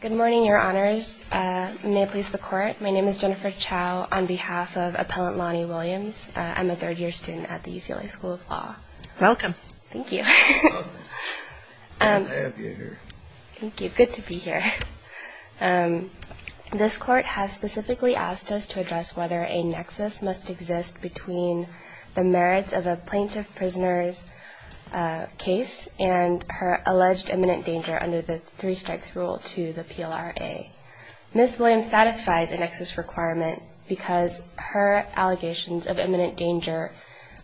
Good morning, Your Honors. May it please the Court, my name is Jennifer Chow on behalf of Appellant Lonnie Williams. I'm a third-year student at the UCLA School of Law. Welcome. Thank you. Welcome. Good to have you here. Thank you. Good to be here. This Court has specifically asked us to address whether a nexus must exist between the merits of a plaintiff-prisoner's case and her alleged imminent danger under the three strikes rule to the PLRA. Ms. Williams satisfies a nexus requirement because her allegations of imminent danger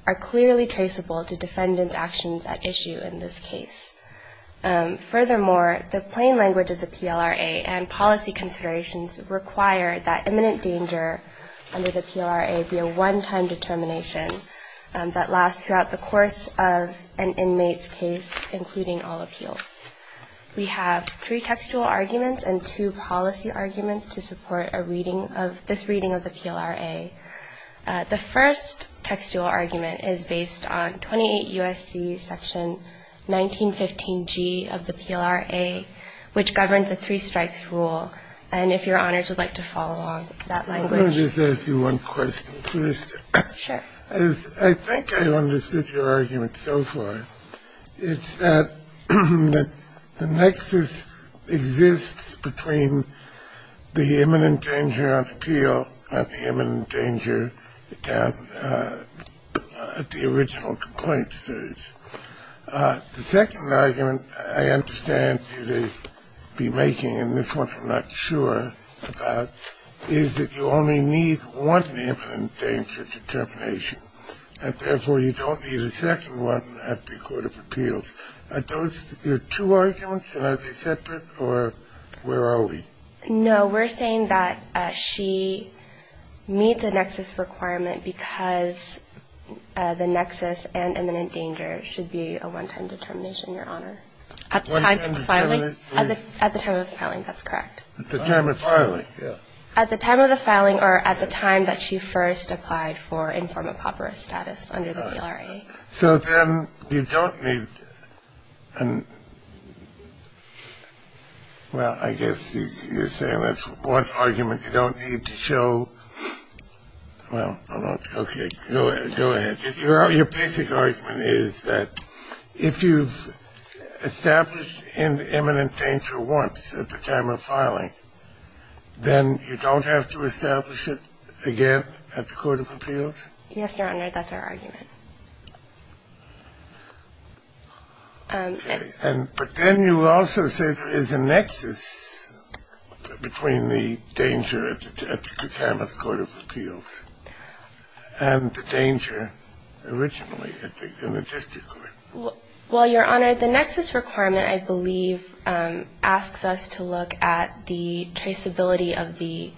are clearly traceable to defendant's actions at issue in this case. Furthermore, the plain language of the PLRA and policy considerations require that imminent danger under the PLRA be a one-time determination that lasts throughout the course of an inmate's case, including all appeals. We have three textual arguments and two policy arguments to support this reading of the PLRA. The first textual argument is based on 28 U.S.C. section 1915G of the PLRA, which governs the three strikes rule. And if Your Honors would like to follow along that language. Let me just ask you one question first. Sure. I think I understood your argument so far. It's that the nexus exists between the imminent danger on appeal and the imminent danger at the original complaint stage. The second argument I understand you to be making, and this one I'm not sure about, is that you only need one imminent danger determination, and therefore you don't need a second one at the court of appeals. Are those your two arguments, and are they separate, or where are we? No, we're saying that she meets a nexus requirement because the nexus and imminent danger should be a one-time determination, Your Honor. At the time of the filing? At the time of the filing, that's correct. At the time of the filing, yeah. At the time of the filing or at the time that she first applied for informed apoperous status under the PLRA. So then you don't need an – well, I guess you're saying that's one argument you don't need to show – well, okay, go ahead. Your basic argument is that if you've established an imminent danger once at the time of filing, then you don't have to establish it again at the court of appeals? Yes, Your Honor, that's our argument. But then you also say there is a nexus between the danger at the time of the court of appeals and the danger originally in the district court. Well, Your Honor, the nexus requirement, I believe, asks us to look at the traceability of the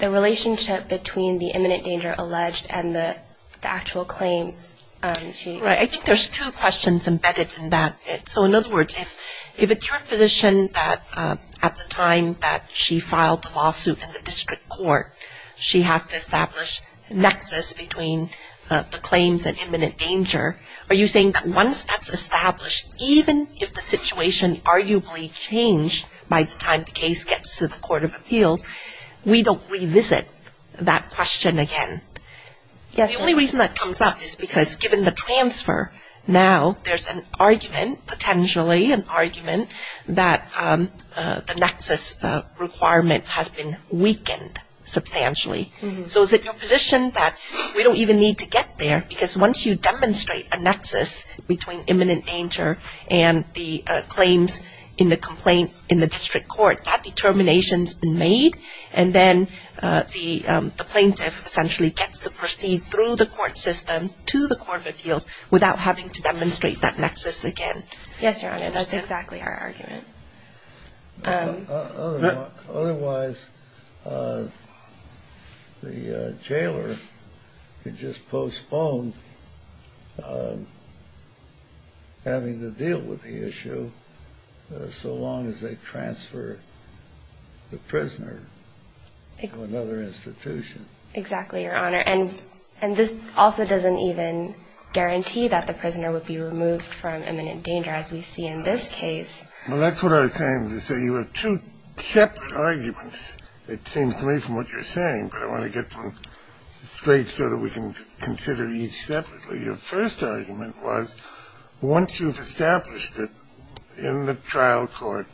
relationship between the imminent danger alleged and the actual claims. Right, I think there's two questions embedded in that. So in other words, if it's your position that at the time that she filed the lawsuit in the district court, she has to establish nexus between the claims and imminent danger, are you saying that once that's established, even if the situation arguably changed by the time the case gets to the court of appeals, we don't revisit that question again? Yes. The only reason that comes up is because given the transfer now, there's an argument, potentially an argument, that the nexus requirement has been weakened substantially. So is it your position that we don't even need to get there? Because once you demonstrate a nexus between imminent danger and the claims in the complaint in the district court, that determination's been made, and then the plaintiff essentially gets to proceed through the court system to the court of appeals without having to demonstrate that nexus again. Yes, Your Honor, that's exactly our argument. Otherwise, the jailer could just postpone having to deal with the issue so long as they transfer the prisoner to another institution. Exactly, Your Honor. And this also doesn't even guarantee that the prisoner would be removed from imminent danger, as we see in this case. Well, that's what I was saying. You have two separate arguments, it seems to me, from what you're saying, but I want to get them straight so that we can consider each separately. Your first argument was once you've established it in the trial court,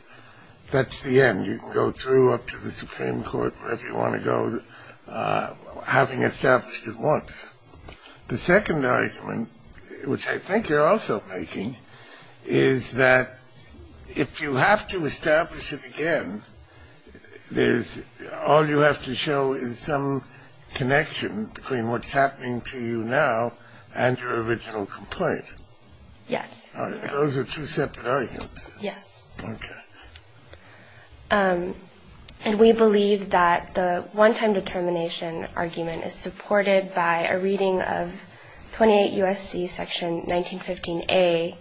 that's the end. You can go through up to the Supreme Court, wherever you want to go, having established it once. The second argument, which I think you're also making, is that if you have to establish it again, all you have to show is some connection between what's happening to you now and your original complaint. Yes. Those are two separate arguments. Yes. Okay. And we believe that the one-time determination argument is supported by a reading of 28 U.S.C. section 1915A,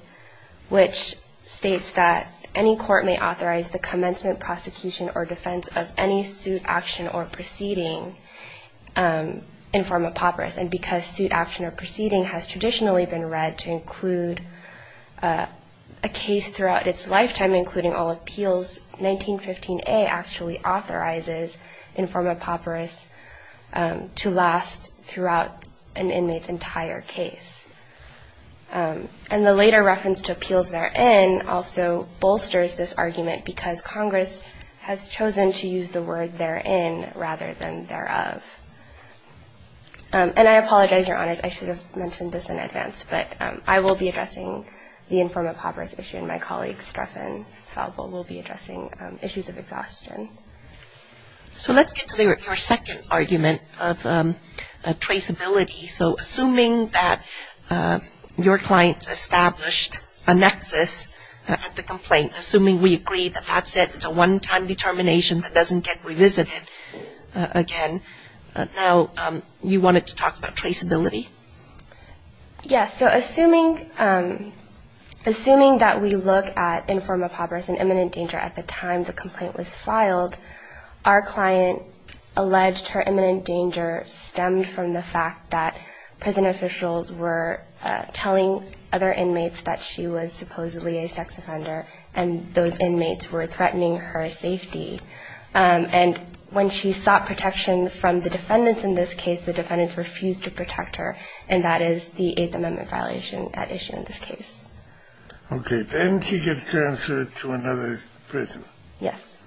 which states that any court may authorize the commencement, prosecution, or defense of any suit, action, or proceeding in form of papyrus. And because suit, action, or proceeding has traditionally been read to include a case throughout its lifetime, including all appeals, 1915A actually authorizes in form of papyrus to last throughout an inmate's entire case. And the later reference to appeals therein also bolsters this argument because Congress has chosen to use the word therein rather than thereof. And I apologize, Your Honor, I should have mentioned this in advance, but I will be addressing the in form of papyrus issue, and my colleagues, Streff and Falvo, will be addressing issues of exhaustion. So let's get to your second argument of traceability. So assuming that your clients established a nexus at the complaint, assuming we agree that that's it, a one-time determination that doesn't get revisited again, now you wanted to talk about traceability? Yes. So assuming that we look at in form of papyrus and imminent danger at the time the complaint was filed, our client alleged her imminent danger stemmed from the fact that prison officials were telling other inmates that she was supposedly a And when she sought protection from the defendants in this case, the defendants refused to protect her, and that is the Eighth Amendment violation at issue in this case. Okay. Then she gets transferred to another prison. Yes.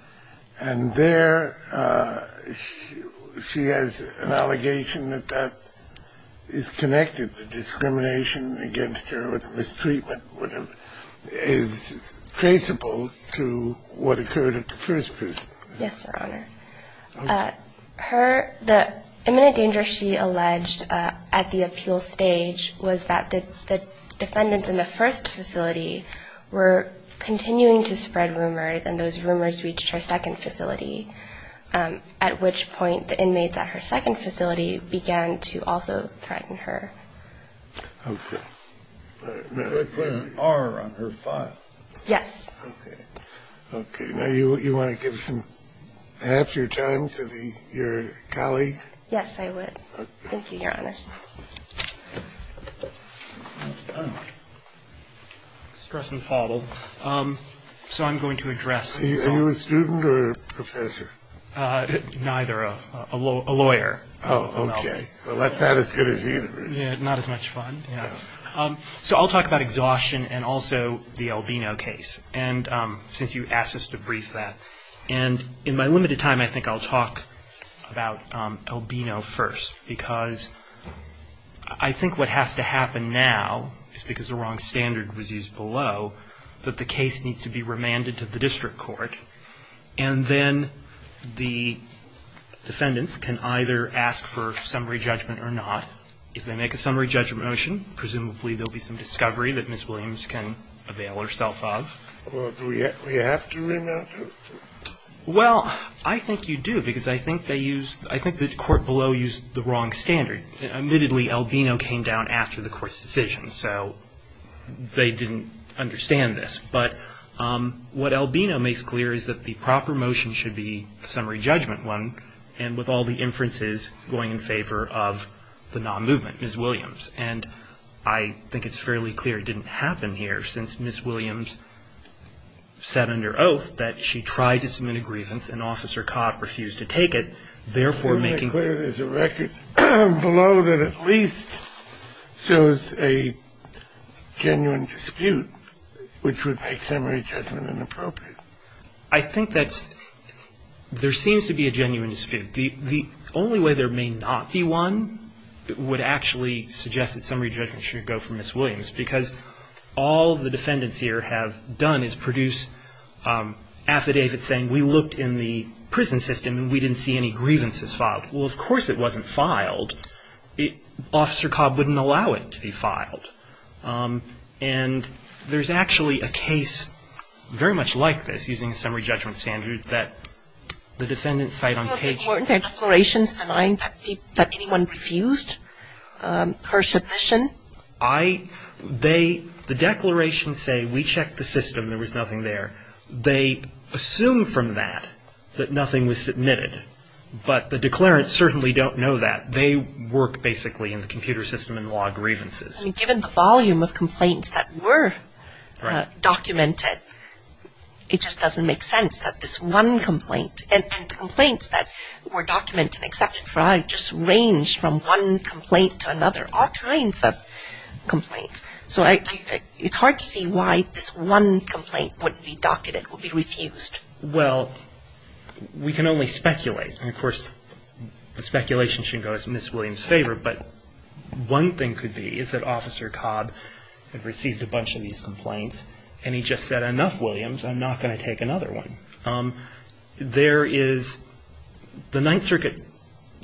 And there she has an allegation that that is connected to discrimination against her, is traceable to what occurred at the first prison. Yes, Your Honor. Okay. Her – the imminent danger she alleged at the appeal stage was that the defendants in the first facility were continuing to spread rumors, and those rumors reached her second facility, at which point the inmates at her second facility began to also threaten her. Okay. Did they put an R on her file? Yes. Okay. Okay. Now, you want to give some – half your time to the – your colleague? Yes, I would. Okay. Thank you, Your Honor. Stress and follow. So I'm going to address – Are you a student or a professor? Neither. A lawyer. Oh, okay. Well, that's not as good as either, is it? Yeah, not as much fun. So I'll talk about exhaustion and also the Albino case, and since you asked us to brief that. And in my limited time, I think I'll talk about Albino first, because I think what has to happen now is, because the wrong standard was used below, that the case needs to be remanded to the district court, and then the defendants can either ask for summary judgment or not. If they make a summary judgment motion, presumably there'll be some discovery that Ms. Williams can avail herself of. Well, do we have to remand her? Well, I think you do, because I think they used – I think the court below used the wrong standard. Admittedly, Albino came down after the court's decision, so they didn't understand this. But what Albino makes clear is that the proper motion should be a summary judgment one, and with all the inferences going in favor of the non-movement, Ms. Williams. And I think it's fairly clear it didn't happen here, since Ms. Williams said under oath that she tried to submit a grievance and Officer Cott refused to take it, therefore making – You make clear there's a record below that at least shows a genuine dispute, which would make summary judgment inappropriate. I think that there seems to be a genuine dispute. The only way there may not be one would actually suggest that summary judgment should go for Ms. Williams, because all the defendants here have done is produce affidavits saying we looked in the prison system and we didn't see any grievances filed. Well, of course it wasn't filed. Officer Cobb wouldn't allow it to be filed. And there's actually a case very much like this, using a summary judgment standard, that the defendants cite on page – Weren't there declarations denying that anyone refused her submission? I – they – the declarations say we checked the system, there was nothing there. They assume from that that nothing was submitted. But the declarants certainly don't know that. They work basically in the computer system in law grievances. I mean, given the volume of complaints that were documented, it just doesn't make sense that this one complaint – and the complaints that were documented in Exception 5 just ranged from one complaint to another, all kinds of complaints. So I – it's hard to see why this one complaint wouldn't be documented, would be refused. Well, we can only speculate. And, of course, the speculation should go in Ms. Williams' favor. But one thing could be is that Officer Cobb had received a bunch of these complaints and he just said, enough, Williams, I'm not going to take another one. There is – the Ninth Circuit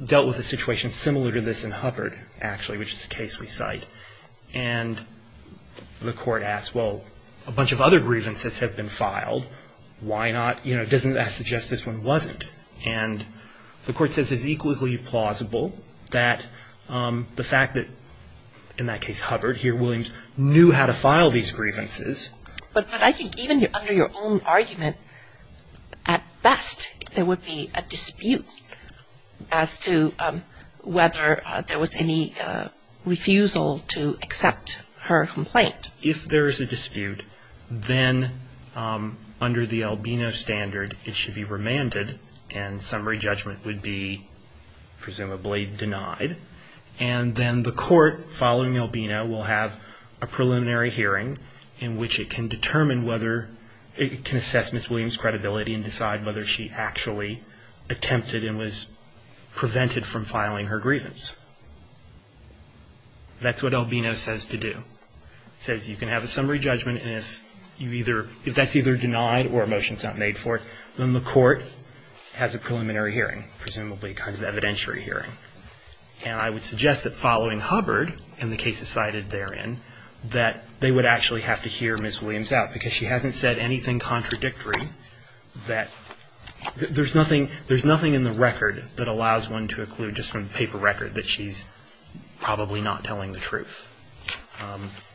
dealt with a situation similar to this in Hubbard, actually, which is a case we cite. And the court asked, well, a bunch of other grievances have been filed. Why not – you know, doesn't that suggest this one wasn't? And the court says it's equally plausible that the fact that in that case Hubbard, here Williams, knew how to file these grievances. But I think even under your own argument, at best there would be a dispute as to whether there was any refusal to accept her complaint. If there is a dispute, then under the Albino standard, it should be remanded and summary judgment would be presumably denied. And then the court, following Albino, will have a preliminary hearing in which it can determine whether – it can assess Ms. Williams' credibility and decide whether she actually attempted and was prevented from filing her grievance. That's what Albino says to do. It says you can have a summary judgment and if you either – if that's either denied or a motion is not made for it, then the court has a preliminary hearing, presumably a kind of evidentiary hearing. And I would suggest that following Hubbard and the cases cited therein, that they would actually have to hear Ms. Williams out because she hasn't said anything contradictory that – there's nothing in the record that allows one to conclude just from the paper record that she's probably not telling the truth.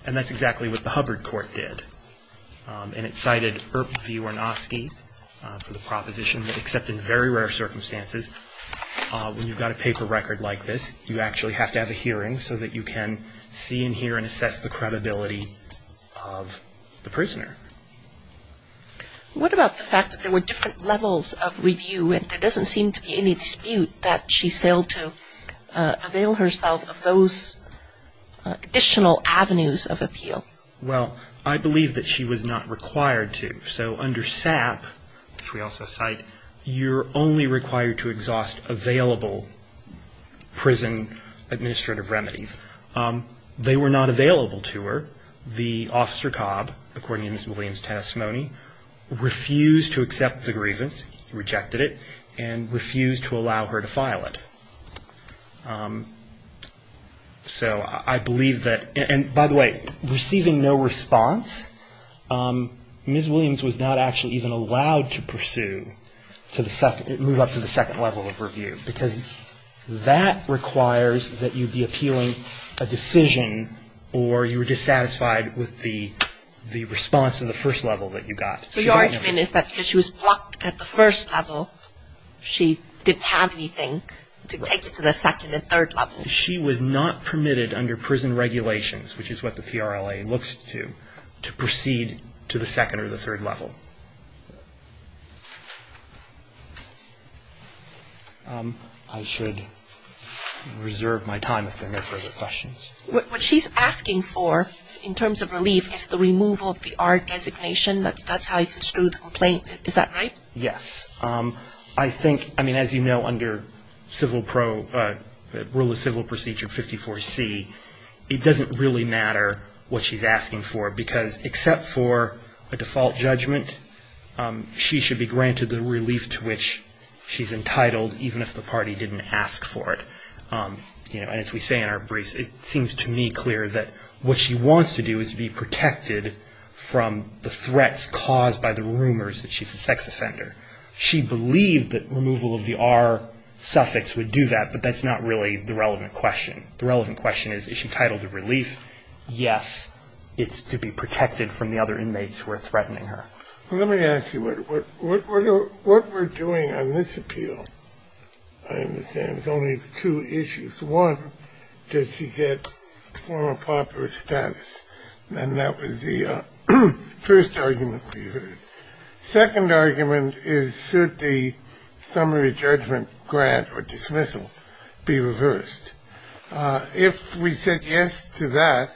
And that's exactly what the Hubbard court did. And it cited Earp v. Ornosky for the proposition that except in very rare circumstances, when you've got a paper record like this, you actually have to have a hearing so that you can see and hear and assess the credibility of the prisoner. What about the fact that there were different levels of review and there doesn't seem to be any dispute that she's failed to avail herself of those additional avenues of appeal? Well, I believe that she was not required to. So under SAP, which we also cite, you're only required to exhaust available prison administrative remedies. They were not available to her. The officer, Cobb, according to Ms. Williams' testimony, refused to accept the grievance. He rejected it and refused to allow her to file it. So I believe that – and by the way, receiving no response, Ms. Williams was not actually even allowed to pursue – move up to the second level of review because that requires that you be appealing a decision or you were dissatisfied with the response in the first level that you got. So your argument is that because she was blocked at the first level, she didn't have anything to take it to the second and third levels. She was not permitted under prison regulations, which is what the PRLA looks to, to proceed to the second or the third level. I should reserve my time if there are no further questions. What she's asking for in terms of relief is the removal of the R designation. That's how you construe the complaint. Is that right? Yes. I think – I mean, as you know, under Civil Pro – Rule of Civil Procedure 54C, it doesn't really matter what she's asking for because except for a default judgment, she should be granted the relief to which she's entitled even if the party didn't ask for it. And as we say in our briefs, it seems to me clear that what she wants to do is be protected from the threats caused by the rumors that she's a sex offender. She believed that removal of the R suffix would do that, but that's not really the relevant question. The relevant question is, is she titled to relief? Yes, it's to be protected from the other inmates who are threatening her. Let me ask you, what we're doing on this appeal, I understand, is only two issues. One, does she get formal popular status? And that was the first argument we heard. Second argument is, should the summary judgment grant or dismissal be reversed? If we said yes to that,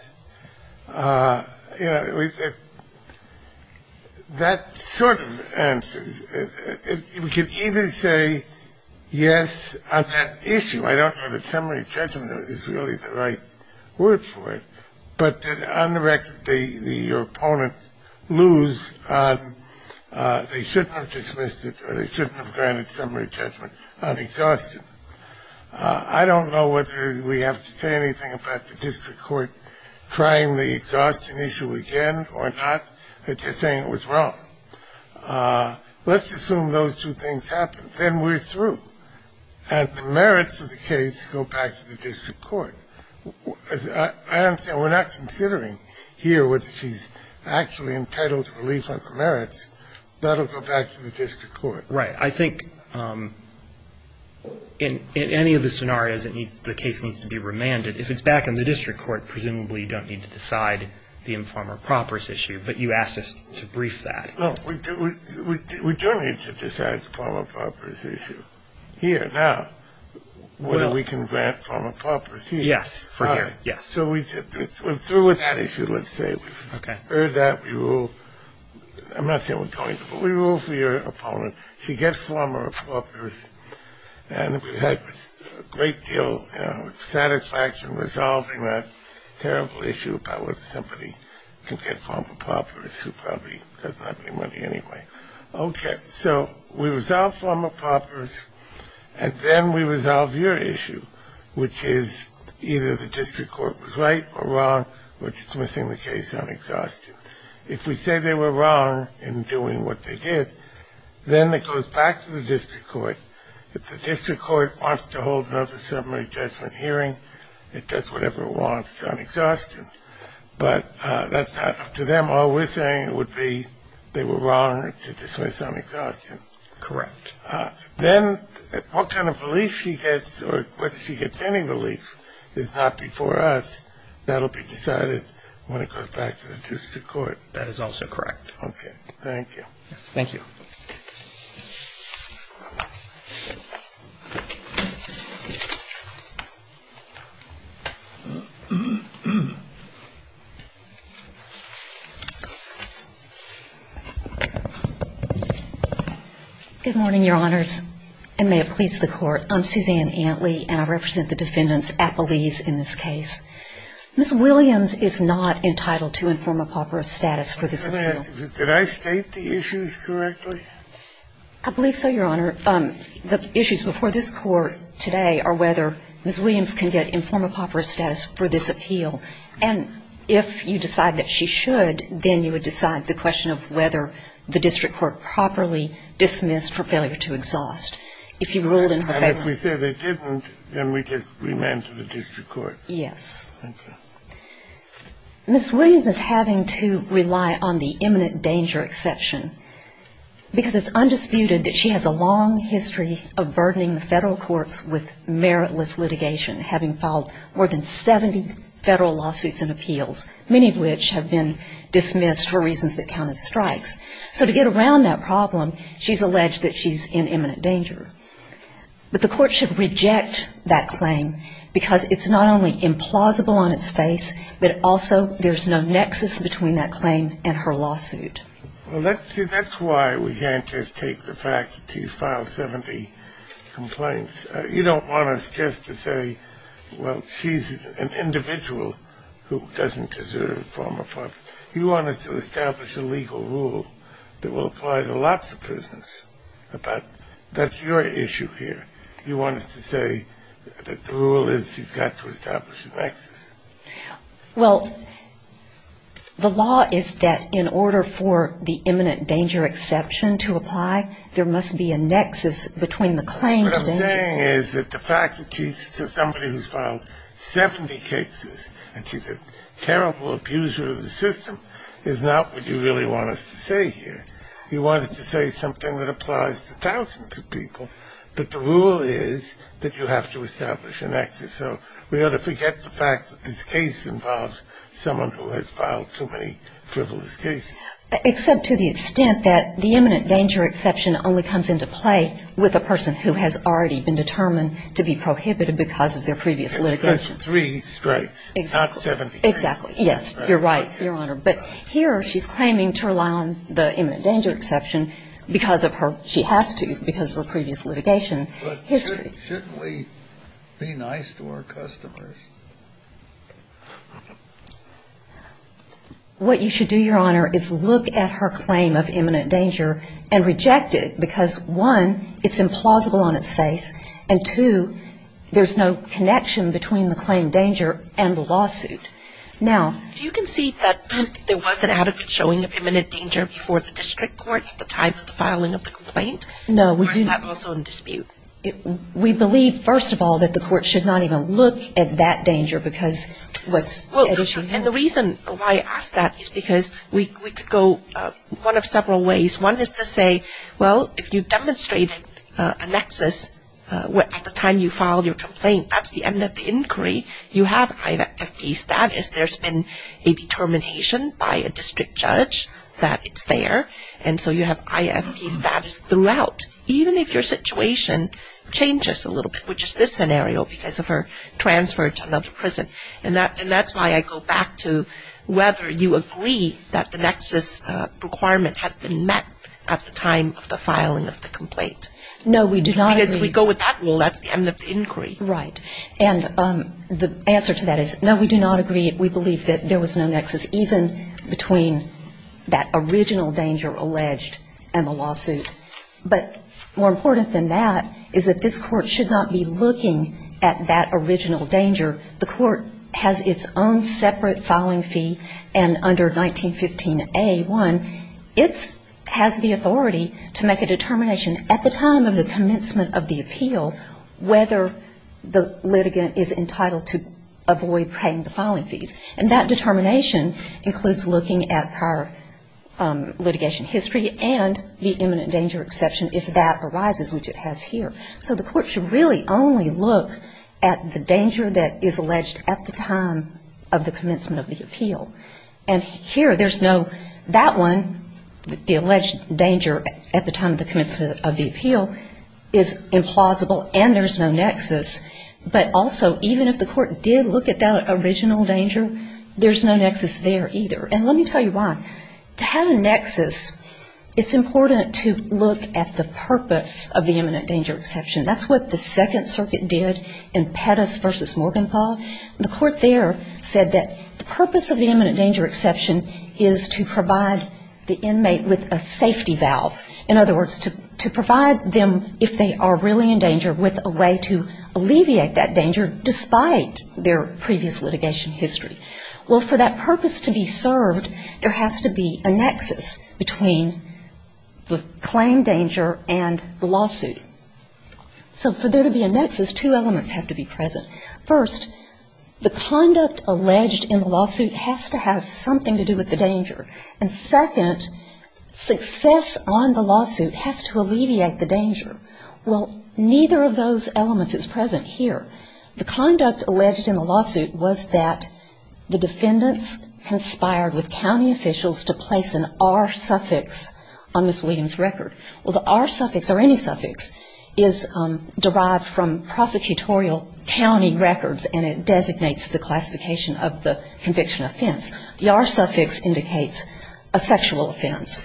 you know, that sort of answers – we can either say yes on that issue. I don't know that summary judgment is really the right word for it. But on the record, your opponent lose on they shouldn't have dismissed it or they shouldn't have granted summary judgment on exhaustion. I don't know whether we have to say anything about the district court trying the exhaustion issue again or not, saying it was wrong. Let's assume those two things happen. Then we're through. And the merits of the case go back to the district court. I understand we're not considering here whether she's actually entitled to relief on the merits. That will go back to the district court. Right. I think in any of the scenarios, the case needs to be remanded. If it's back in the district court, presumably you don't need to decide the informer proper's issue, but you asked us to brief that. No, we do need to decide the former proper's issue here now, whether we can grant former proper's here. Yes, for here. So we're through with that issue, let's say. We've heard that. We rule – I'm not saying we're going to, but we rule for your opponent. She gets former proper's, and we've had a great deal of satisfaction resolving that terrible issue about whether somebody can get former proper's, who probably doesn't have any money anyway. Okay, so we resolve former proper's, and then we resolve your issue, which is either the district court was right or wrong, which is missing the case on exhaustion. If we say they were wrong in doing what they did, then it goes back to the district court. If the district court wants to hold another summary judgment hearing, it does whatever it wants on exhaustion. But that's not up to them. All we're saying would be they were wrong to dismiss on exhaustion. Correct. Then what kind of relief she gets or whether she gets any relief is not before us. That will be decided when it goes back to the district court. That is also correct. Okay, thank you. Thank you. Good morning, Your Honors, and may it please the Court. I'm Suzanne Antley, and I represent the defendants at Belize in this case. Ms. Williams is not entitled to informal proper status for this appeal. Did I state the issues correctly? I believe so, Your Honor. The issues before this Court today are whether Ms. Williams can get informal proper status for this appeal. And if you decide that she should, then you would decide the question of whether the district court properly dismissed her failure to exhaust. If you ruled in her favor. And if we say they didn't, then we just remand to the district court. Yes. Thank you. Ms. Williams is having to rely on the imminent danger exception because it's undisputed that she has a long history of burdening the federal courts with meritless litigation, having filed more than 70 federal lawsuits and appeals, many of which have been dismissed for reasons that count as strikes. So to get around that problem, she's alleged that she's in imminent danger. But the court should reject that claim because it's not only implausible on its face, but also there's no nexus between that claim and her lawsuit. Well, that's why we can't just take the fact that she's filed 70 complaints. You don't want us just to say, well, she's an individual who doesn't deserve formal proper status. You want us to establish a legal rule that will apply to lots of prisons. That's your issue here. You want us to say that the rule is she's got to establish a nexus. Well, the law is that in order for the imminent danger exception to apply, there must be a nexus between the claim to the end. What I'm saying is that the fact that she's somebody who's filed 70 cases and she's a terrible abuser of the system is not what you really want us to say here. You want us to say something that applies to thousands of people, but the rule is that you have to establish a nexus. So we ought to forget the fact that this case involves someone who has filed too many frivolous cases. Except to the extent that the imminent danger exception only comes into play with a person who has already been determined to be prohibited because of their previous litigation. As opposed to three strikes, not 70. Exactly. Yes, you're right, Your Honor. But here she's claiming to allow the imminent danger exception because of her ‑‑ she has to because of her previous litigation history. But shouldn't we be nice to our customers? What you should do, Your Honor, is look at her claim of imminent danger and reject it because, one, it's implausible on its face, and, two, there's no connection between the claim danger and the lawsuit. Now ‑‑ Do you concede that there was an adequate showing of imminent danger before the district court at the time of the filing of the complaint? No, we do not. Or is that also in dispute? We believe, first of all, that the court should not even look at that danger because what's at issue ‑‑ Well, and the reason why I ask that is because we could go one of several ways. One is to say, well, if you demonstrated a nexus at the time you filed your status, there's been a determination by a district judge that it's there, and so you have IFP status throughout, even if your situation changes a little bit, which is this scenario because of her transfer to another prison. And that's why I go back to whether you agree that the nexus requirement has been met at the time of the filing of the complaint. No, we do not agree. Because if we go with that rule, that's the end of the inquiry. Right. And the answer to that is, no, we do not agree. We believe that there was no nexus, even between that original danger alleged and the lawsuit. But more important than that is that this court should not be looking at that original danger. The court has its own separate filing fee, and under 1915A1, it has the authority to make a determination at the time of the commencement of the appeal whether the litigant is entitled to avoid paying the filing fees. And that determination includes looking at her litigation history and the imminent danger exception if that arises, which it has here. So the court should really only look at the danger that is alleged at the time of the commencement of the appeal. And here, there's no that one, the alleged danger at the time of the commencement of the appeal is implausible, and there's no nexus. But also, even if the court did look at that original danger, there's no nexus there either. And let me tell you why. To have a nexus, it's important to look at the purpose of the imminent danger exception. That's what the Second Circuit did in Pettus v. Morgenthau. The court there said that the purpose of the imminent danger exception is to provide the inmate with a safety valve. In other words, to provide them if they are really in danger with a way to alleviate that danger despite their previous litigation history. Well, for that purpose to be served, there has to be a nexus between the claim danger and the lawsuit. So for there to be a nexus, two elements have to be present. First, the conduct alleged in the lawsuit has to have something to do with the danger. And second, success on the lawsuit has to alleviate the danger. Well, neither of those elements is present here. The conduct alleged in the lawsuit was that the defendants conspired with county officials to place an R suffix on Ms. Williams' record. Well, the R suffix or any suffix is derived from prosecutorial county records and it designates the classification of the conviction offense. The R suffix indicates a sexual offense.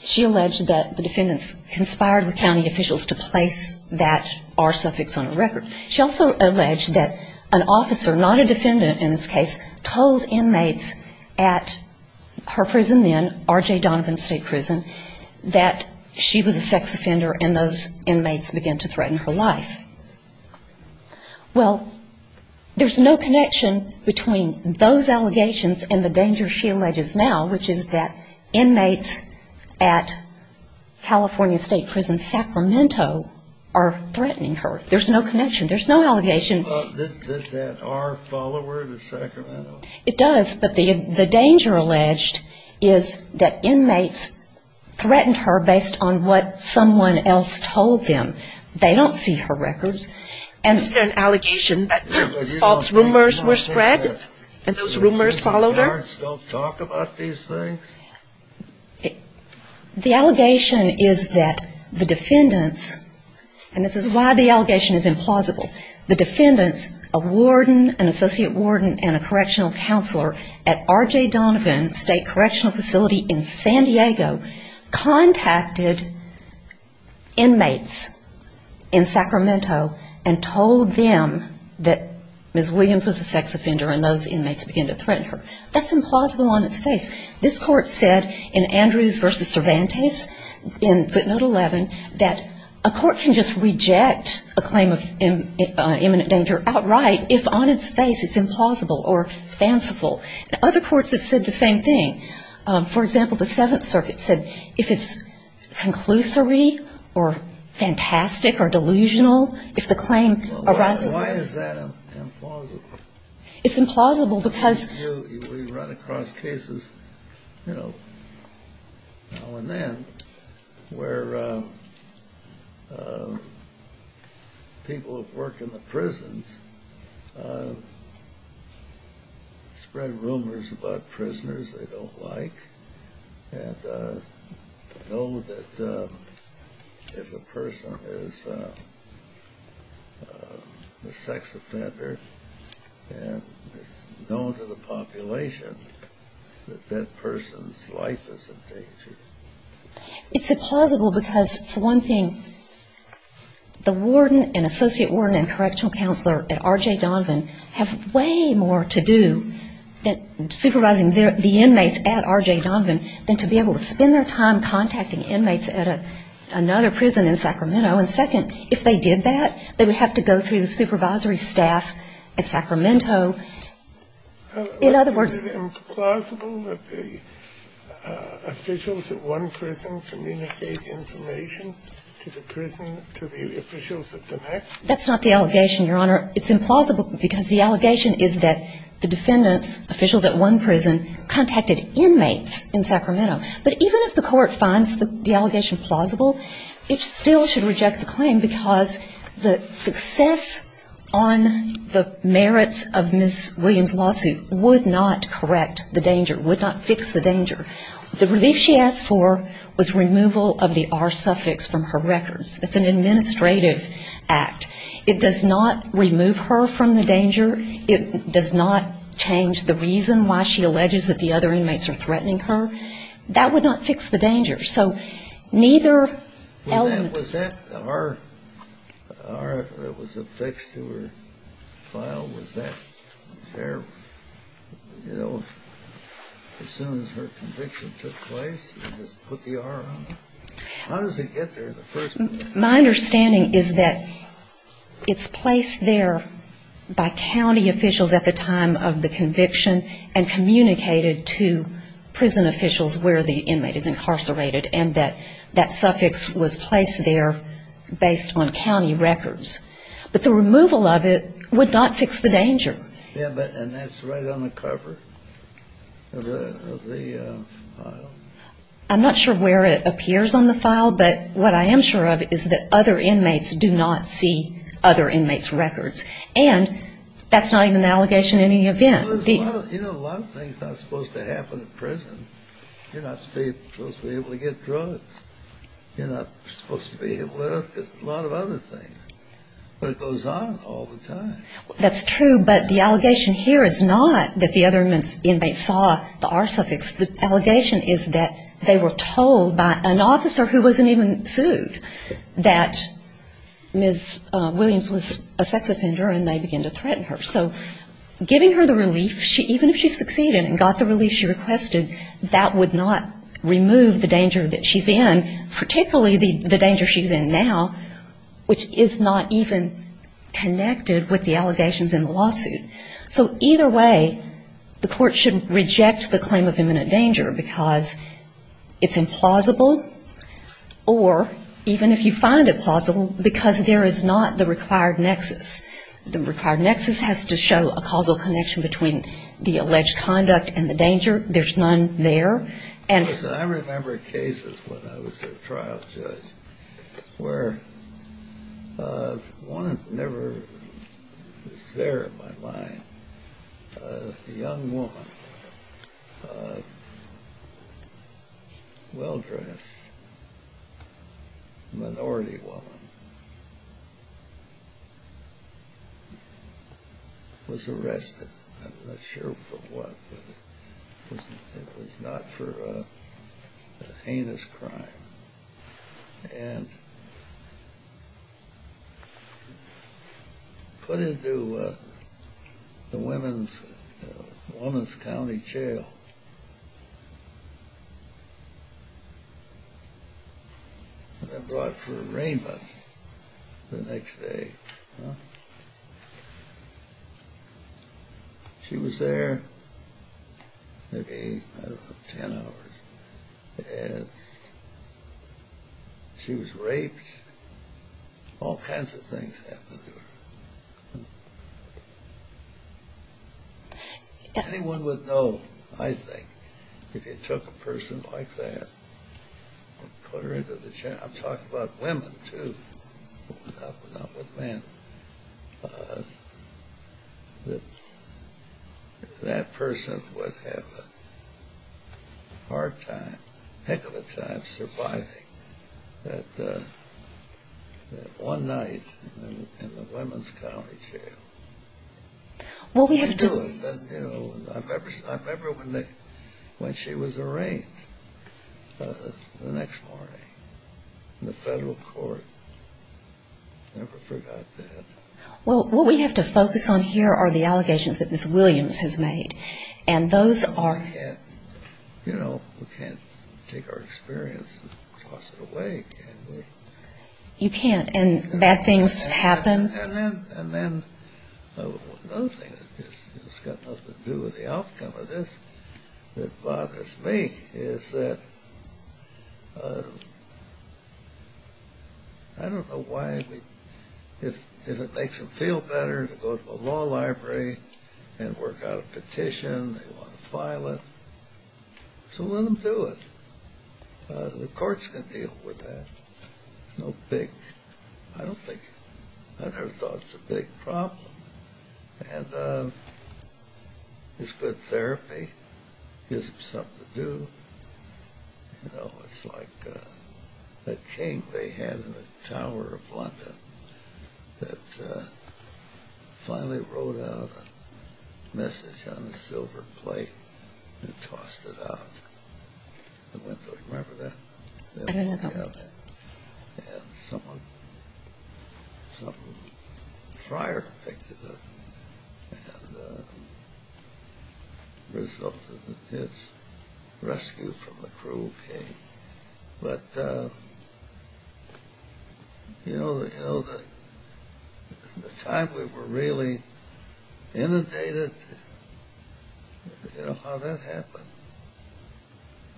She alleged that the defendants conspired with county officials to place that R suffix on her record. She also alleged that an officer, not a defendant in this case, told inmates at her prison then, R.J. Donovan State Prison, that she was a sex offender and those inmates began to threaten her life. Well, there's no connection between those allegations and the danger she alleges now, which is that inmates at California State Prison Sacramento are threatening her. There's no connection. There's no allegation. Does that R follow her to Sacramento? It does, but the danger alleged is that inmates threatened her based on what someone else told them. They don't see her records. And is there an allegation that false rumors were spread and those rumors followed her? Don't talk about these things? The allegation is that the defendants, and this is why the allegation is implausible, the defendants, a warden, an associate warden and a correctional counselor at R.J. Donovan State Correctional Facility in San Diego, contacted inmates in Sacramento and told them that Ms. Williams was a sex offender and those inmates began to threaten her. That's implausible on its face. This court said in Andrews v. Cervantes in footnote 11 that a court can just reject a claim of imminent danger outright if on its face it's implausible or fanciful. And other courts have said the same thing. For example, the Seventh Circuit said if it's conclusory or fantastic or delusional, if the claim arises. Why is that implausible? It's implausible because. We run across cases, you know, now and then, where people who work in the community know what it's like and know that if a person is a sex offender and is known to the population, that that person's life is in danger. It's implausible because, for one thing, the warden and associate warden and correctional counselor at R.J. Donovan have way more to do than supervising the inmates at R.J. Donovan than to be able to spend their time contacting inmates at another prison in Sacramento. And second, if they did that, they would have to go through the supervisory staff at Sacramento. In other words. Is it implausible that the officials at one prison communicate information to the prison, to the officials at the next? That's not the allegation, Your Honor. It's implausible because the allegation is that the defendants, officials at one prison, contacted inmates in Sacramento. But even if the court finds the allegation plausible, it still should reject the claim because the success on the merits of Ms. Williams' lawsuit would not correct the danger, would not fix the danger. The relief she asked for was removal of the R suffix from her records. It's an administrative act. It does not remove her from the danger. It does not change the reason why she alleges that the other inmates are threatening her. That would not fix the danger. So neither element. Was that R that was affixed to her file, was that there, you know, as soon as her conviction took place and just put the R on it? How does it get there in the first place? My understanding is that it's placed there by county officials at the time of the conviction and communicated to prison officials where the inmate is incarcerated and that that suffix was placed there based on county records. But the removal of it would not fix the danger. Yeah, but that's right on the cover of the file. I'm not sure where it appears on the file, but what I am sure of is that other inmates do not see other inmates' records. And that's not even an allegation in any event. You know, a lot of things are not supposed to happen in prison. You're not supposed to be able to get drugs. You're not supposed to be able to do a lot of other things. But it goes on all the time. That's true, but the allegation here is not that the other inmates saw the R suffix. The allegation is that they were told by an officer who wasn't even sued that Ms. Williams was a sex offender and they began to threaten her. So giving her the relief, even if she succeeded and got the relief she requested, that would not remove the danger that she's in, particularly the danger she's in now, which is not even connected with the allegations in the lawsuit. So either way, the court should reject the claim of imminent danger because it's implausible, or even if you find it plausible, because there is not the required nexus. The required nexus has to show a causal connection between the alleged conduct and the danger. There's none there. I remember cases when I was a trial judge where one never was there in my mind. A young woman, well-dressed, minority woman, was arrested. I'm not sure for what. It was not for a heinous crime. And put into the Women's County Jail and then brought for arraignment the next day. She was there maybe, I don't know, 10 hours. And she was raped. All kinds of things happened to her. Anyone would know, I think, if you took a person like that and put her into the jail. I'm talking about women, too, not with men. That person would have a hard time, heck of a time surviving that one night in the Women's County Jail. I remember when she was arraigned the next morning in the federal court. I never forgot that. Well, what we have to focus on here are the allegations that Ms. Williams has made. And those are — You know, we can't take our experience and toss it away, can we? You can't. And bad things happen. And then another thing that's got nothing to do with the outcome of this that bothers me is that I don't know why we — if it makes them feel better to go to the law library and work out a petition. They want to file it. So let them do it. The courts can deal with that. There's no big — I don't think — I never thought it was a big problem. And it's good therapy. It gives them something to do. You know, it's like that king they had in the Tower of London that finally wrote out a message on a silver plate and tossed it out the window. Do you remember that? I don't know about that. And someone — some friar picked it up and resulted in its rescue from the cruel king. But, you know, in the time we were really inundated — you know how that happened?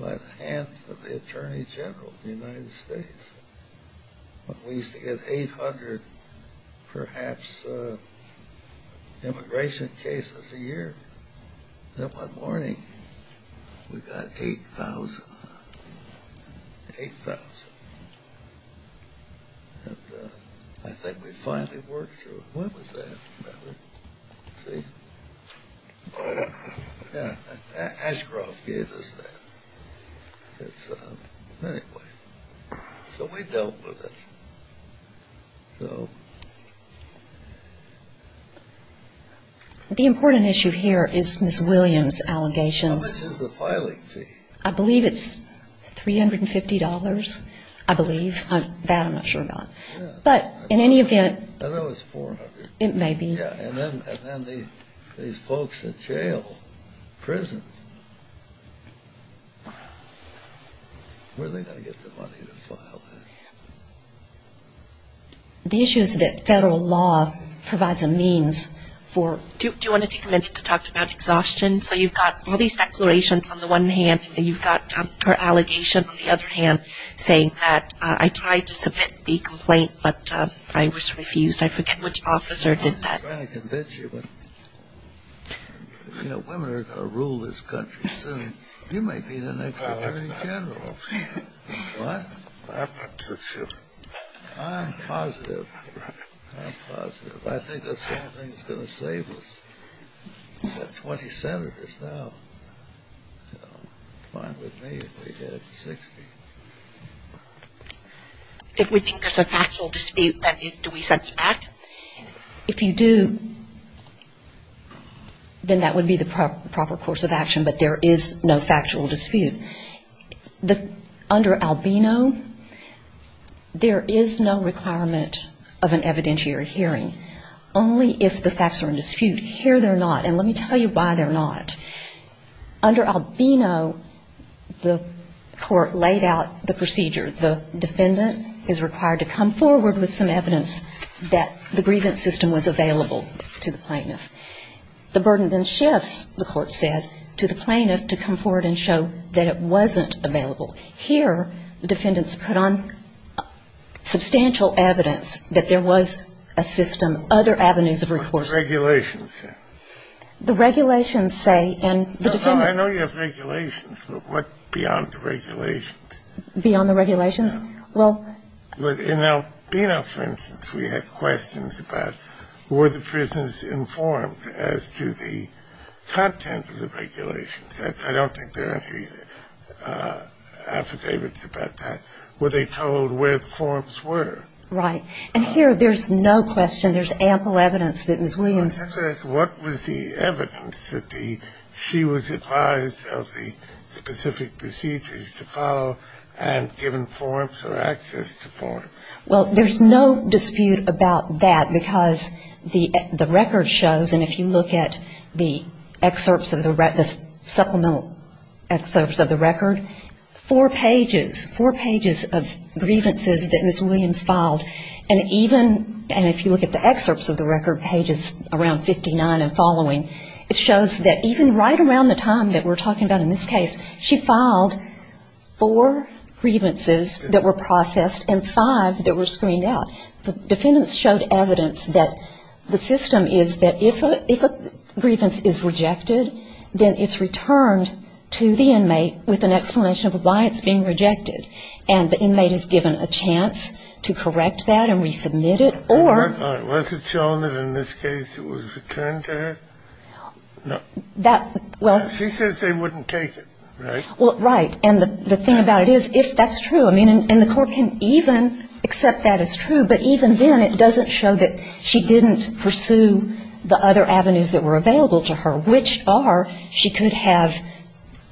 By the hands of the attorney general of the United States. We used to get 800, perhaps, immigration cases a year. Then one morning, we got 8,000. 8,000. And I think we finally worked through it. See? Yeah. Ashcroft gave us that. It's — anyway. So we dealt with it. So — The important issue here is Ms. Williams' allegations. How much is the filing fee? I believe it's $350. I believe. That I'm not sure about. Yeah. But in any event — I thought it was $400. It may be. Yeah. And then these folks in jail, prison, where are they going to get the money to file that? The issue is that federal law provides a means for — Do you want to take a minute to talk about exhaustion? So you've got all these declarations on the one hand, and you've got her allegation on the other hand, I tried to submit the complaint, but I was refused. I forget which officer did that. I'm trying to convince you, but, you know, women are going to rule this country soon. You might be the next Attorney General. What? I'm not so sure. I'm positive. I'm positive. I think that's the only thing that's going to save us. We've got 20 senators now. Fine with me if we get 60. If we think there's a factual dispute, do we send you back? If you do, then that would be the proper course of action. But there is no factual dispute. Under Albino, there is no requirement of an evidentiary hearing, only if the facts are in dispute. Here they're not, and let me tell you why they're not. Under Albino, the court laid out the procedure. The defendant is required to come forward with some evidence that the grievance system was available to the plaintiff. The burden then shifts, the court said, to the plaintiff to come forward and show that it wasn't available. Here, the defendants put on substantial evidence that there was a system, other avenues of recourse. The regulations say. The regulations say. I know you have regulations, but what beyond the regulations? Beyond the regulations? Well, in Albino, for instance, we had questions about were the prisons informed as to the content of the regulations. I don't think there are any affidavits about that. Were they told where the forms were? Right. And here there's no question. There's ample evidence that Ms. Williams. What was the evidence that she was advised of the specific procedures to follow and given forms or access to forms? Well, there's no dispute about that, because the record shows, and if you look at the excerpts of the supplemental excerpts of the record, four pages, four pages of grievances that Ms. Williams filed. And even, and if you look at the excerpts of the record, pages around 59 and following, it shows that even right around the time that we're talking about in this case, she filed four grievances that were processed and five that were screened out. The defendants showed evidence that the system is that if a grievance is rejected, then it's returned to the inmate with an explanation of why it's being rejected. And the inmate is given a chance to correct that and resubmit it, or. Was it shown that in this case it was returned to her? No. That, well. She says they wouldn't take it, right? Well, right. And the thing about it is, if that's true, I mean, and the Court can even accept that as true, but even then it doesn't show that she didn't pursue the other avenues that were available to her, which are she could have,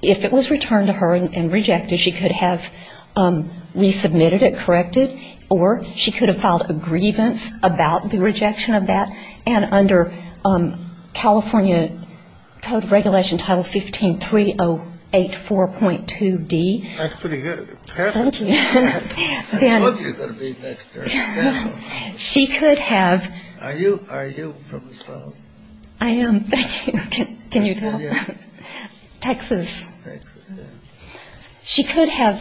if it was returned to her and rejected, she could have resubmitted it, corrected, or she could have filed a grievance about the rejection of that. And under California Code of Regulation Title 15-3084.2D. That's pretty good. Thank you. I love you going to be next year. She could have. Are you from the South? I am. Thank you. Can you tell? Yeah. Texas. Very good. She could have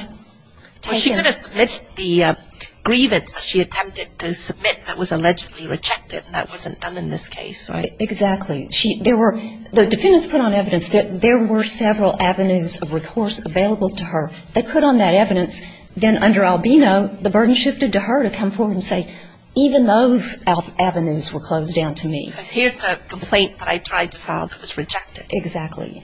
taken. Well, she could have submitted the grievance that she attempted to submit that was allegedly rejected and that wasn't done in this case, right? Exactly. There were, the defendants put on evidence that there were several avenues of recourse available to her. They put on that evidence. Then under Albino, the burden shifted to her to come forward and say, even those avenues were closed down to me. Because here's the complaint that I tried to file that was rejected. Exactly.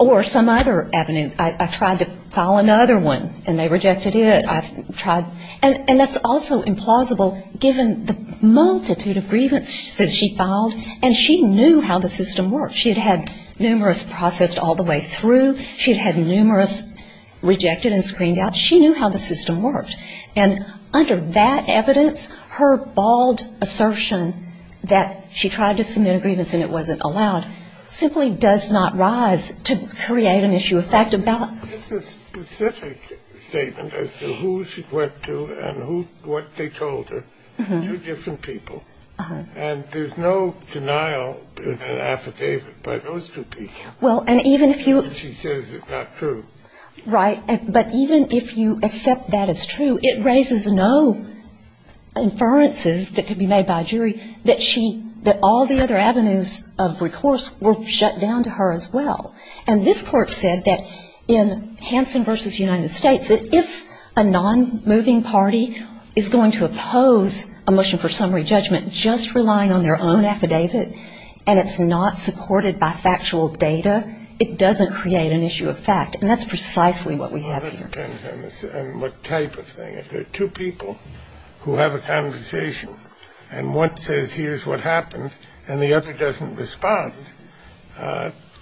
Or some other avenue. I tried to file another one and they rejected it. I've tried. And that's also implausible given the multitude of grievances that she filed. And she knew how the system worked. She had had numerous processed all the way through. She had had numerous rejected and screened out. She knew how the system worked. And under that evidence, her bald assertion that she tried to submit a grievance and it wasn't allowed simply does not rise to create an issue of fact about. It's a specific statement as to who she went to and what they told her. Two different people. And there's no denial in an affidavit by those two people. Well, and even if you. She says it's not true. Right. But even if you accept that it's true, it raises no inferences that could be made by a jury that she, that all the other avenues of recourse were shut down to her as well. And this court said that in Hansen v. United States, that if a non-moving party is going to oppose a motion for summary judgment just relying on their own affidavit and it's not supported by factual data, it doesn't create an issue of fact. And that's precisely what we have here. It depends on what type of thing. If there are two people who have a conversation and one says here's what happened and the other doesn't respond,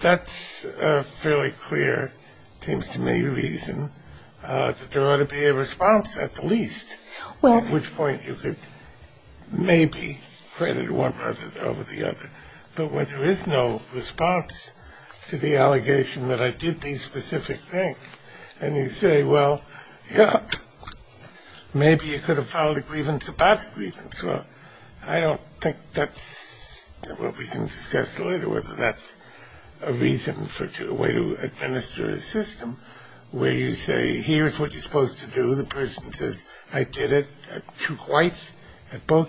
that's a fairly clear, it seems to me, reason that there ought to be a response at the least. Well. At which point you could maybe credit one over the other. But when there is no response to the allegation that I did these specific things and you say, well, yeah, maybe you could have filed a grievance about a grievance. Well, I don't think that's what we can discuss later, whether that's a reason for a way to administer a system where you say, here's what you're supposed to do. The person says, I did it. Well, I don't think that's what we can discuss later, whether that's a reason for a way to administer a system where you say, well, yeah, maybe you could have filed a grievance about a grievance. Now, we do know in her declaration that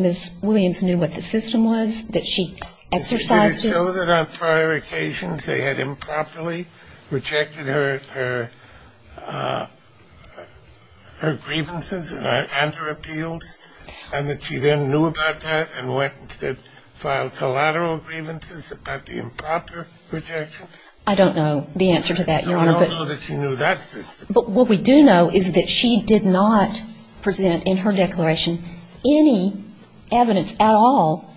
Ms. Williams knew what the system was, that she exercised it. Did she show that on prior occasions they had improperly rejected her grievances and her appeals and she then knew about that and filed collateral grievances about the improper rejections? I don't know the answer to that, Your Honor. But we don't know that she knew that system. But what we do know is that she did not present in her declaration any evidence at all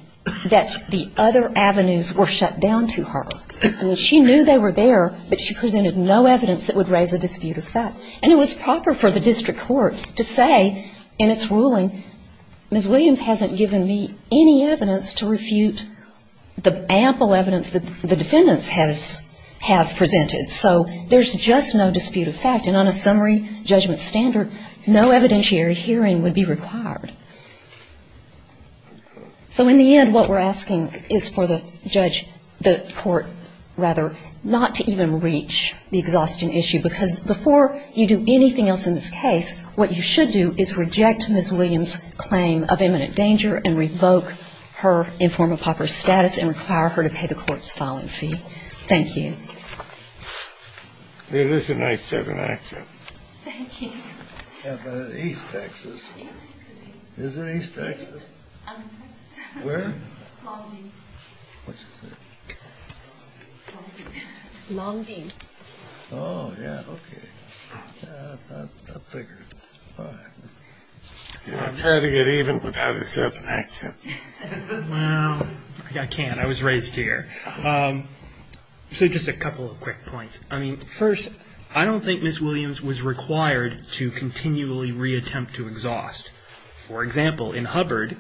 that the other avenues were shut down to her. She knew they were there, but she presented no evidence that would raise a dispute of fact. And it was proper for the district court to say in its ruling, Ms. Williams hasn't given me any evidence to refute the ample evidence that the defendants have presented. So there's just no dispute of fact, and on a summary judgment standard, no evidentiary hearing would be required. So in the end, what we're asking is for the judge, the court, rather, not to even reach the exhaustion issue, because before you do anything else in this case, what you should do is reject Ms. Williams' claim of imminent danger and revoke her informal proper status and require her to pay the court's filing fee. Thank you. Hey, this is a nice Southern accent. Thank you. Yeah, but it's East Texas. East Texas. Is it East Texas? I don't think so. Where? Long Beach. Which is it? Long Beach. Long Beach. Long Beach. Oh, yeah. Okay. I figured. Fine. I'm trying to get even without a Southern accent. Well, I can't. I was raised here. So just a couple of quick points. I mean, first, I don't think Ms. Williams was required to continually reattempt to exhaust. For example, in Hubbard,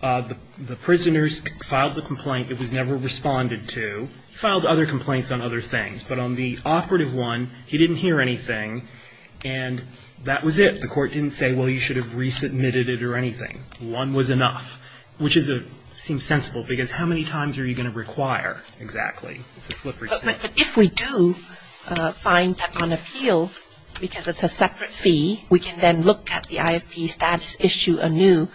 the prisoners filed the complaint. It was never responded to. Filed other complaints on other things, but on the operative one, he didn't hear anything, and that was it. The court didn't say, well, you should have resubmitted it or anything. One was enough, which seems sensible because how many times are you going to require exactly? It's a slippery slope. But if we do find that on appeal, because it's a separate fee, we can then look at the IFP status issue anew,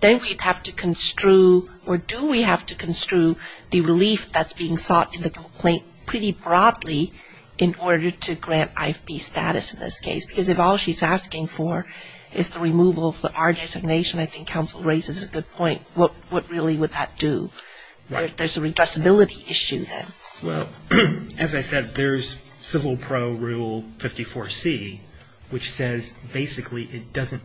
then we'd have to construe, or do we have to construe, the relief that's being sought in the complaint pretty broadly in order to grant IFP status in this case? Because if all she's asking for is the removal of the R designation, I think counsel raises a good point. What really would that do? There's a redressability issue then. Well, as I said, there's civil pro rule 54C, which says basically it doesn't,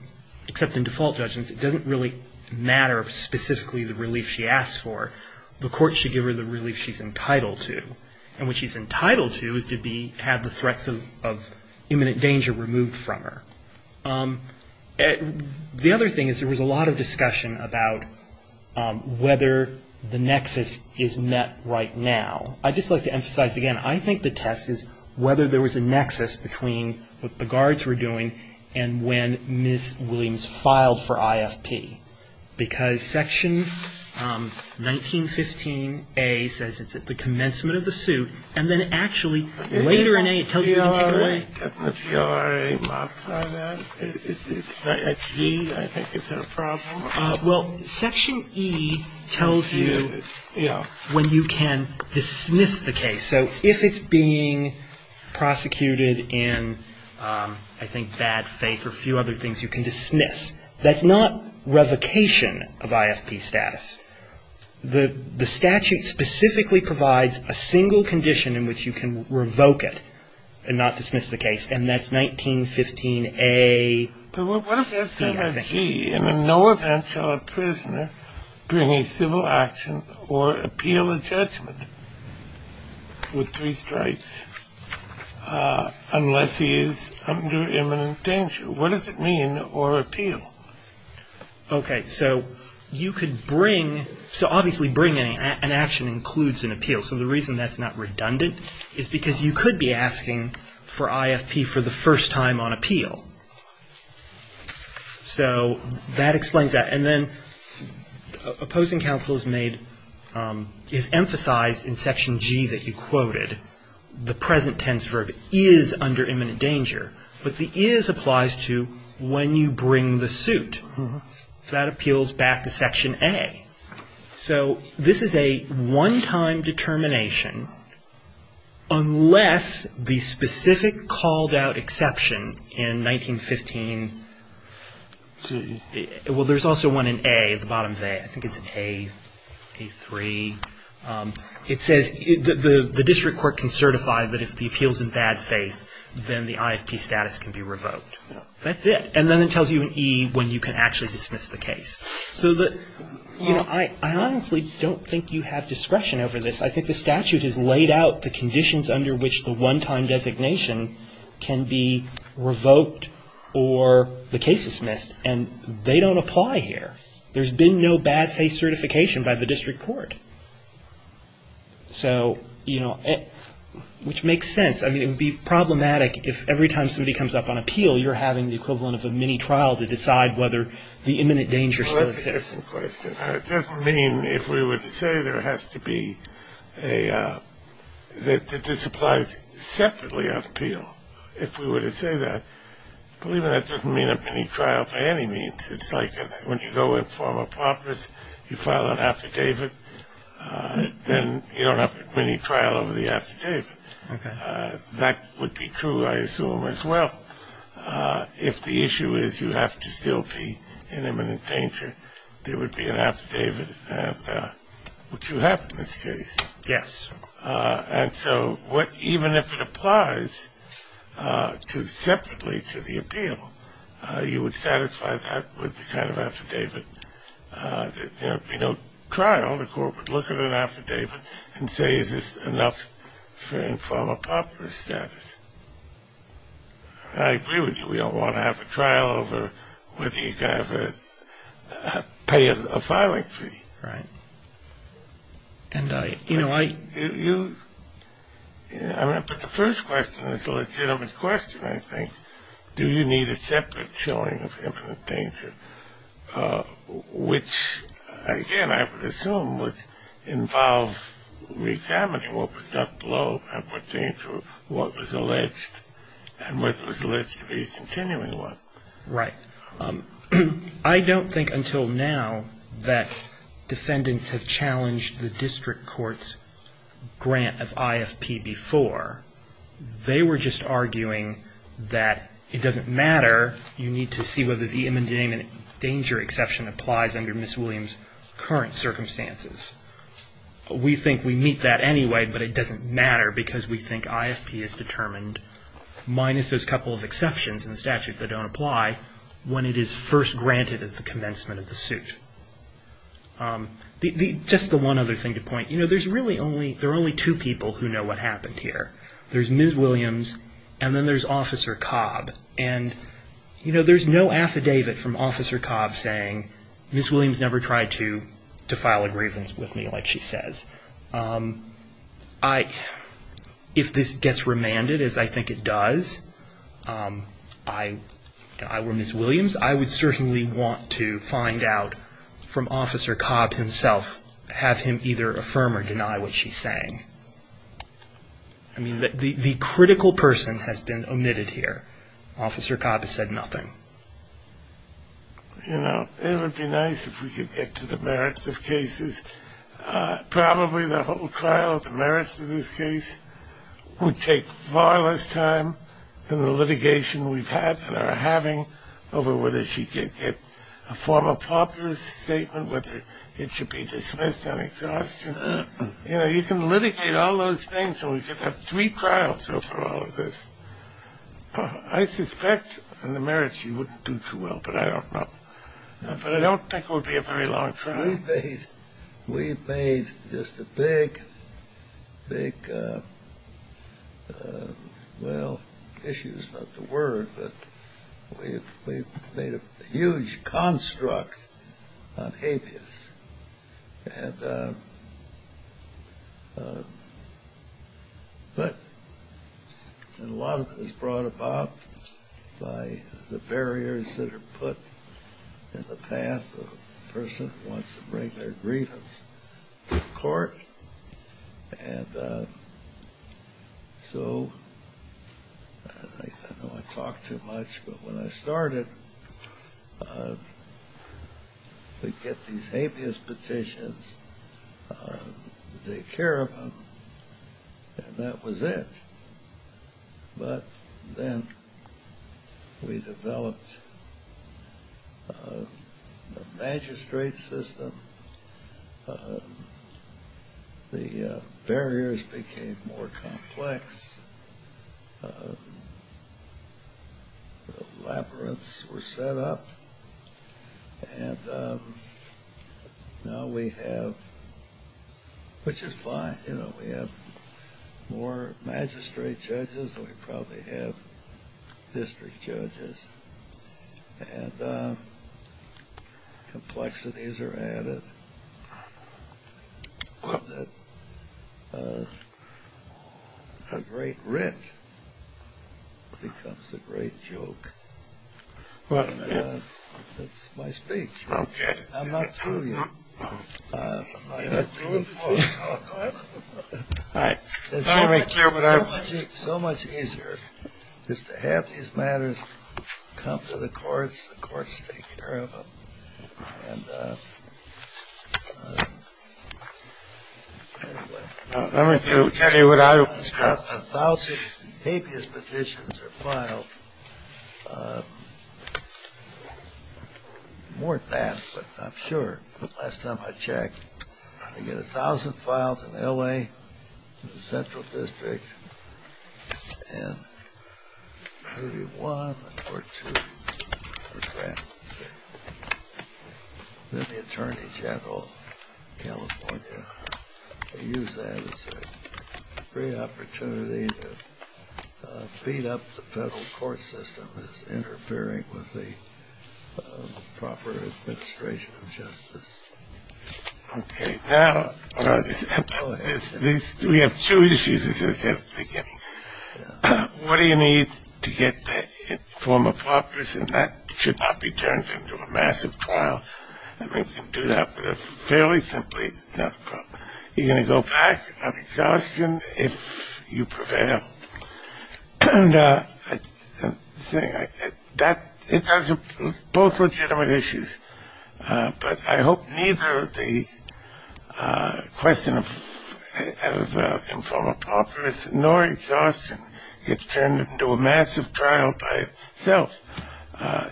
except in default judgments, it doesn't really matter specifically the relief she asks for. The court should give her the relief she's entitled to. And what she's entitled to is to have the threats of imminent danger removed from her. The other thing is there was a lot of discussion about whether the nexus is met right now. I'd just like to emphasize again, I think the test is whether there was a nexus between what the guards were doing and when Ms. Williams filed for IFP. Because Section 1915A says it's at the commencement of the suit, and then actually later in A it tells you you can take it away. Isn't the G.R.A. marked on that? It's a G. I think it's a problem. Well, Section E tells you when you can dismiss the case. So if it's being prosecuted in, I think, bad faith or a few other things, you can dismiss. That's not revocation of IFP status. The statute specifically provides a single condition in which you can revoke it and not dismiss the case, and that's 1915A. But what if that's not a G? And in no event shall a prisoner bring a civil action or appeal a judgment with three strikes unless he is under imminent danger. What does it mean, or appeal? Okay, so you could bring, so obviously bringing an action includes an appeal. So the reason that's not redundant is because you could be asking for IFP for the first time on appeal. So that explains that. And then opposing counsel is made, is emphasized in Section G that you quoted. The present tense verb is under imminent danger, but the is applies to when you bring the suit. That appeals back to Section A. So this is a one-time determination unless the specific called-out exception in 1915, well, there's also one in A, at the bottom of A. I think it's A3. It says the district court can certify, but if the appeal's in bad faith, then the IFP status can be revoked. That's it. And then it tells you in E when you can actually dismiss the case. So the, you know, I honestly don't think you have discretion over this. I think the statute has laid out the conditions under which the one-time designation can be revoked or the case dismissed, and they don't apply here. There's been no bad faith certification by the district court. So, you know, which makes sense. I mean, it would be problematic if every time somebody comes up on appeal, you're having the equivalent of a mini-trial to decide whether the imminent danger still exists. Well, that's an interesting question. It doesn't mean if we were to say there has to be a, that this applies separately on appeal. If we were to say that, believe me, that doesn't mean a mini-trial by any means. It's like when you go and form a promise, you file an affidavit, then you don't have a mini-trial over the affidavit. Okay. That would be true, I assume, as well. If the issue is you have to still be in imminent danger, there would be an affidavit, which you have in this case. Yes. And so even if it applies separately to the appeal, you would satisfy that with the kind of affidavit. There would be no trial. The court would look at an affidavit and say, is this enough from a popular status? I agree with you. We don't want to have a trial over whether you can pay a filing fee. Right. But the first question is a legitimate question, I think. Do you need a separate showing of imminent danger, which, again, I would assume, would involve reexamining what was done below and what was alleged and what was alleged to be a continuing one. Right. I don't think until now that defendants have challenged the district court's grant of IFP before. They were just arguing that it doesn't matter, you need to see whether the imminent danger exception applies under Ms. Williams' current circumstances. We think we meet that anyway, but it doesn't matter because we think IFP is determined, minus those couple of exceptions in the statute that don't apply, when it is first granted at the commencement of the suit. Just the one other thing to point, you know, there's really only two people who know what happened here. There's Ms. Williams and then there's Officer Cobb. And, you know, there's no affidavit from Officer Cobb saying, Ms. Williams never tried to file a grievance with me, like she says. If this gets remanded, as I think it does, I or Ms. Williams, I would certainly want to find out from Officer Cobb himself, have him either affirm or deny what she's saying. I mean, the critical person has been omitted here. Officer Cobb has said nothing. You know, it would be nice if we could get to the merits of cases. Probably the whole trial, the merits of this case, would take far less time than the litigation we've had and are having over whether she could get a formal popular statement, whether it should be dismissed on exhaustion. You know, you can litigate all those things and we could have three trials over all of this. I suspect in the merits she wouldn't do too well, but I don't know. But I don't think it would be a very long trial. We've made just a big, big, well, issue is not the word, but we've made a huge construct on habeas. And a lot of it is brought about by the barriers that are put in the path of the person who wants to bring their grievance to court. And so I know I talk too much, but when I started, we'd get these habeas petitions, take care of them, and that was it. But then we developed the magistrate system. The barriers became more complex. The labyrinths were set up. And now we have, which is fine, you know, we have more magistrate judges than we probably have district judges. And complexities are added so that a great writ becomes a great joke. That's my speech. I'm not fooling you. It's so much easier just to have these matters come to the courts. The courts take care of them. And anyway. Let me tell you what I was talking about. A thousand habeas petitions are filed. More than that, but I'm sure. Last time I checked, you get a thousand filed in L.A. in the central district and maybe one or two. Then the attorney general of California used that as a great opportunity to beat up the federal court system as interfering with the proper administration of justice. Okay. Now, we have two issues, as I said at the beginning. What do you need to get the form of office? And that should not be turned into a massive trial. I mean, we can do that fairly simply. You're going to go back on exhaustion if you prevail. And the thing, it does both legitimate issues. But I hope neither the question of informal property nor exhaustion gets turned into a massive trial by itself.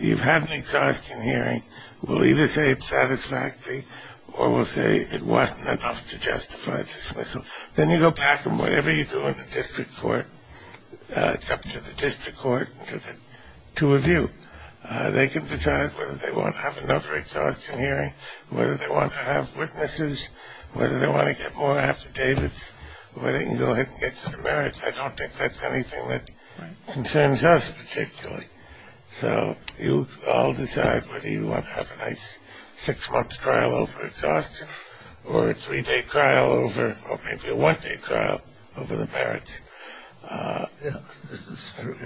You've had an exhaustion hearing. We'll either say it's satisfactory or we'll say it wasn't enough to justify dismissal. Then you go back and whatever you do in the district court, it's up to the district court and to review. They can decide whether they want to have another exhaustion hearing, whether they want to have witnesses, whether they want to get more affidavits, whether they can go ahead and get to the merits. I don't think that's anything that concerns us particularly. So you all decide whether you want to have a nice six-month trial over exhaustion or a three-day trial over or maybe a one-day trial over the merits. Yes, this is true.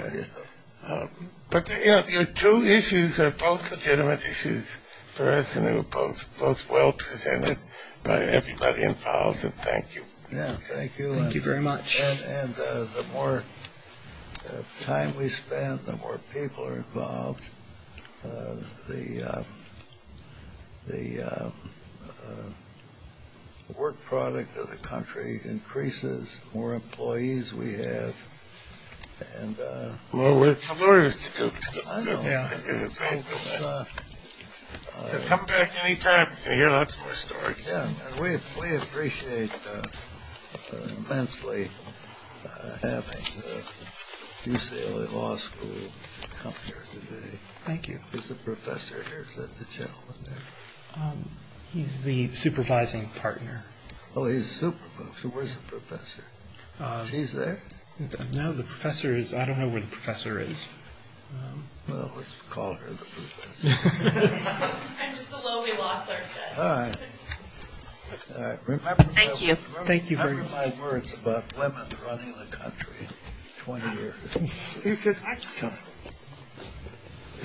But, you know, your two issues are both legitimate issues for us and they were both well presented by everybody involved. And thank you. Yeah, thank you. Thank you very much. And the more time we spend, the more people are involved, the work product of the country increases, the more employees we have. Well, we're familiar with the Duke. I know. So come back any time. You'll hear lots more stories. We appreciate immensely having the UCLA Law School come here today. Thank you. Is the professor here? Is that the gentleman there? He's the supervising partner. Oh, he's supervising. Where's the professor? She's there? No, the professor is. I don't know where the professor is. Well, let's call her the professor. I'm just a lowly law clerk. All right. Thank you. Thank you very much. Remember my words about women running the country 20 years? You said I should come.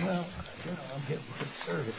Well, I'm getting good service.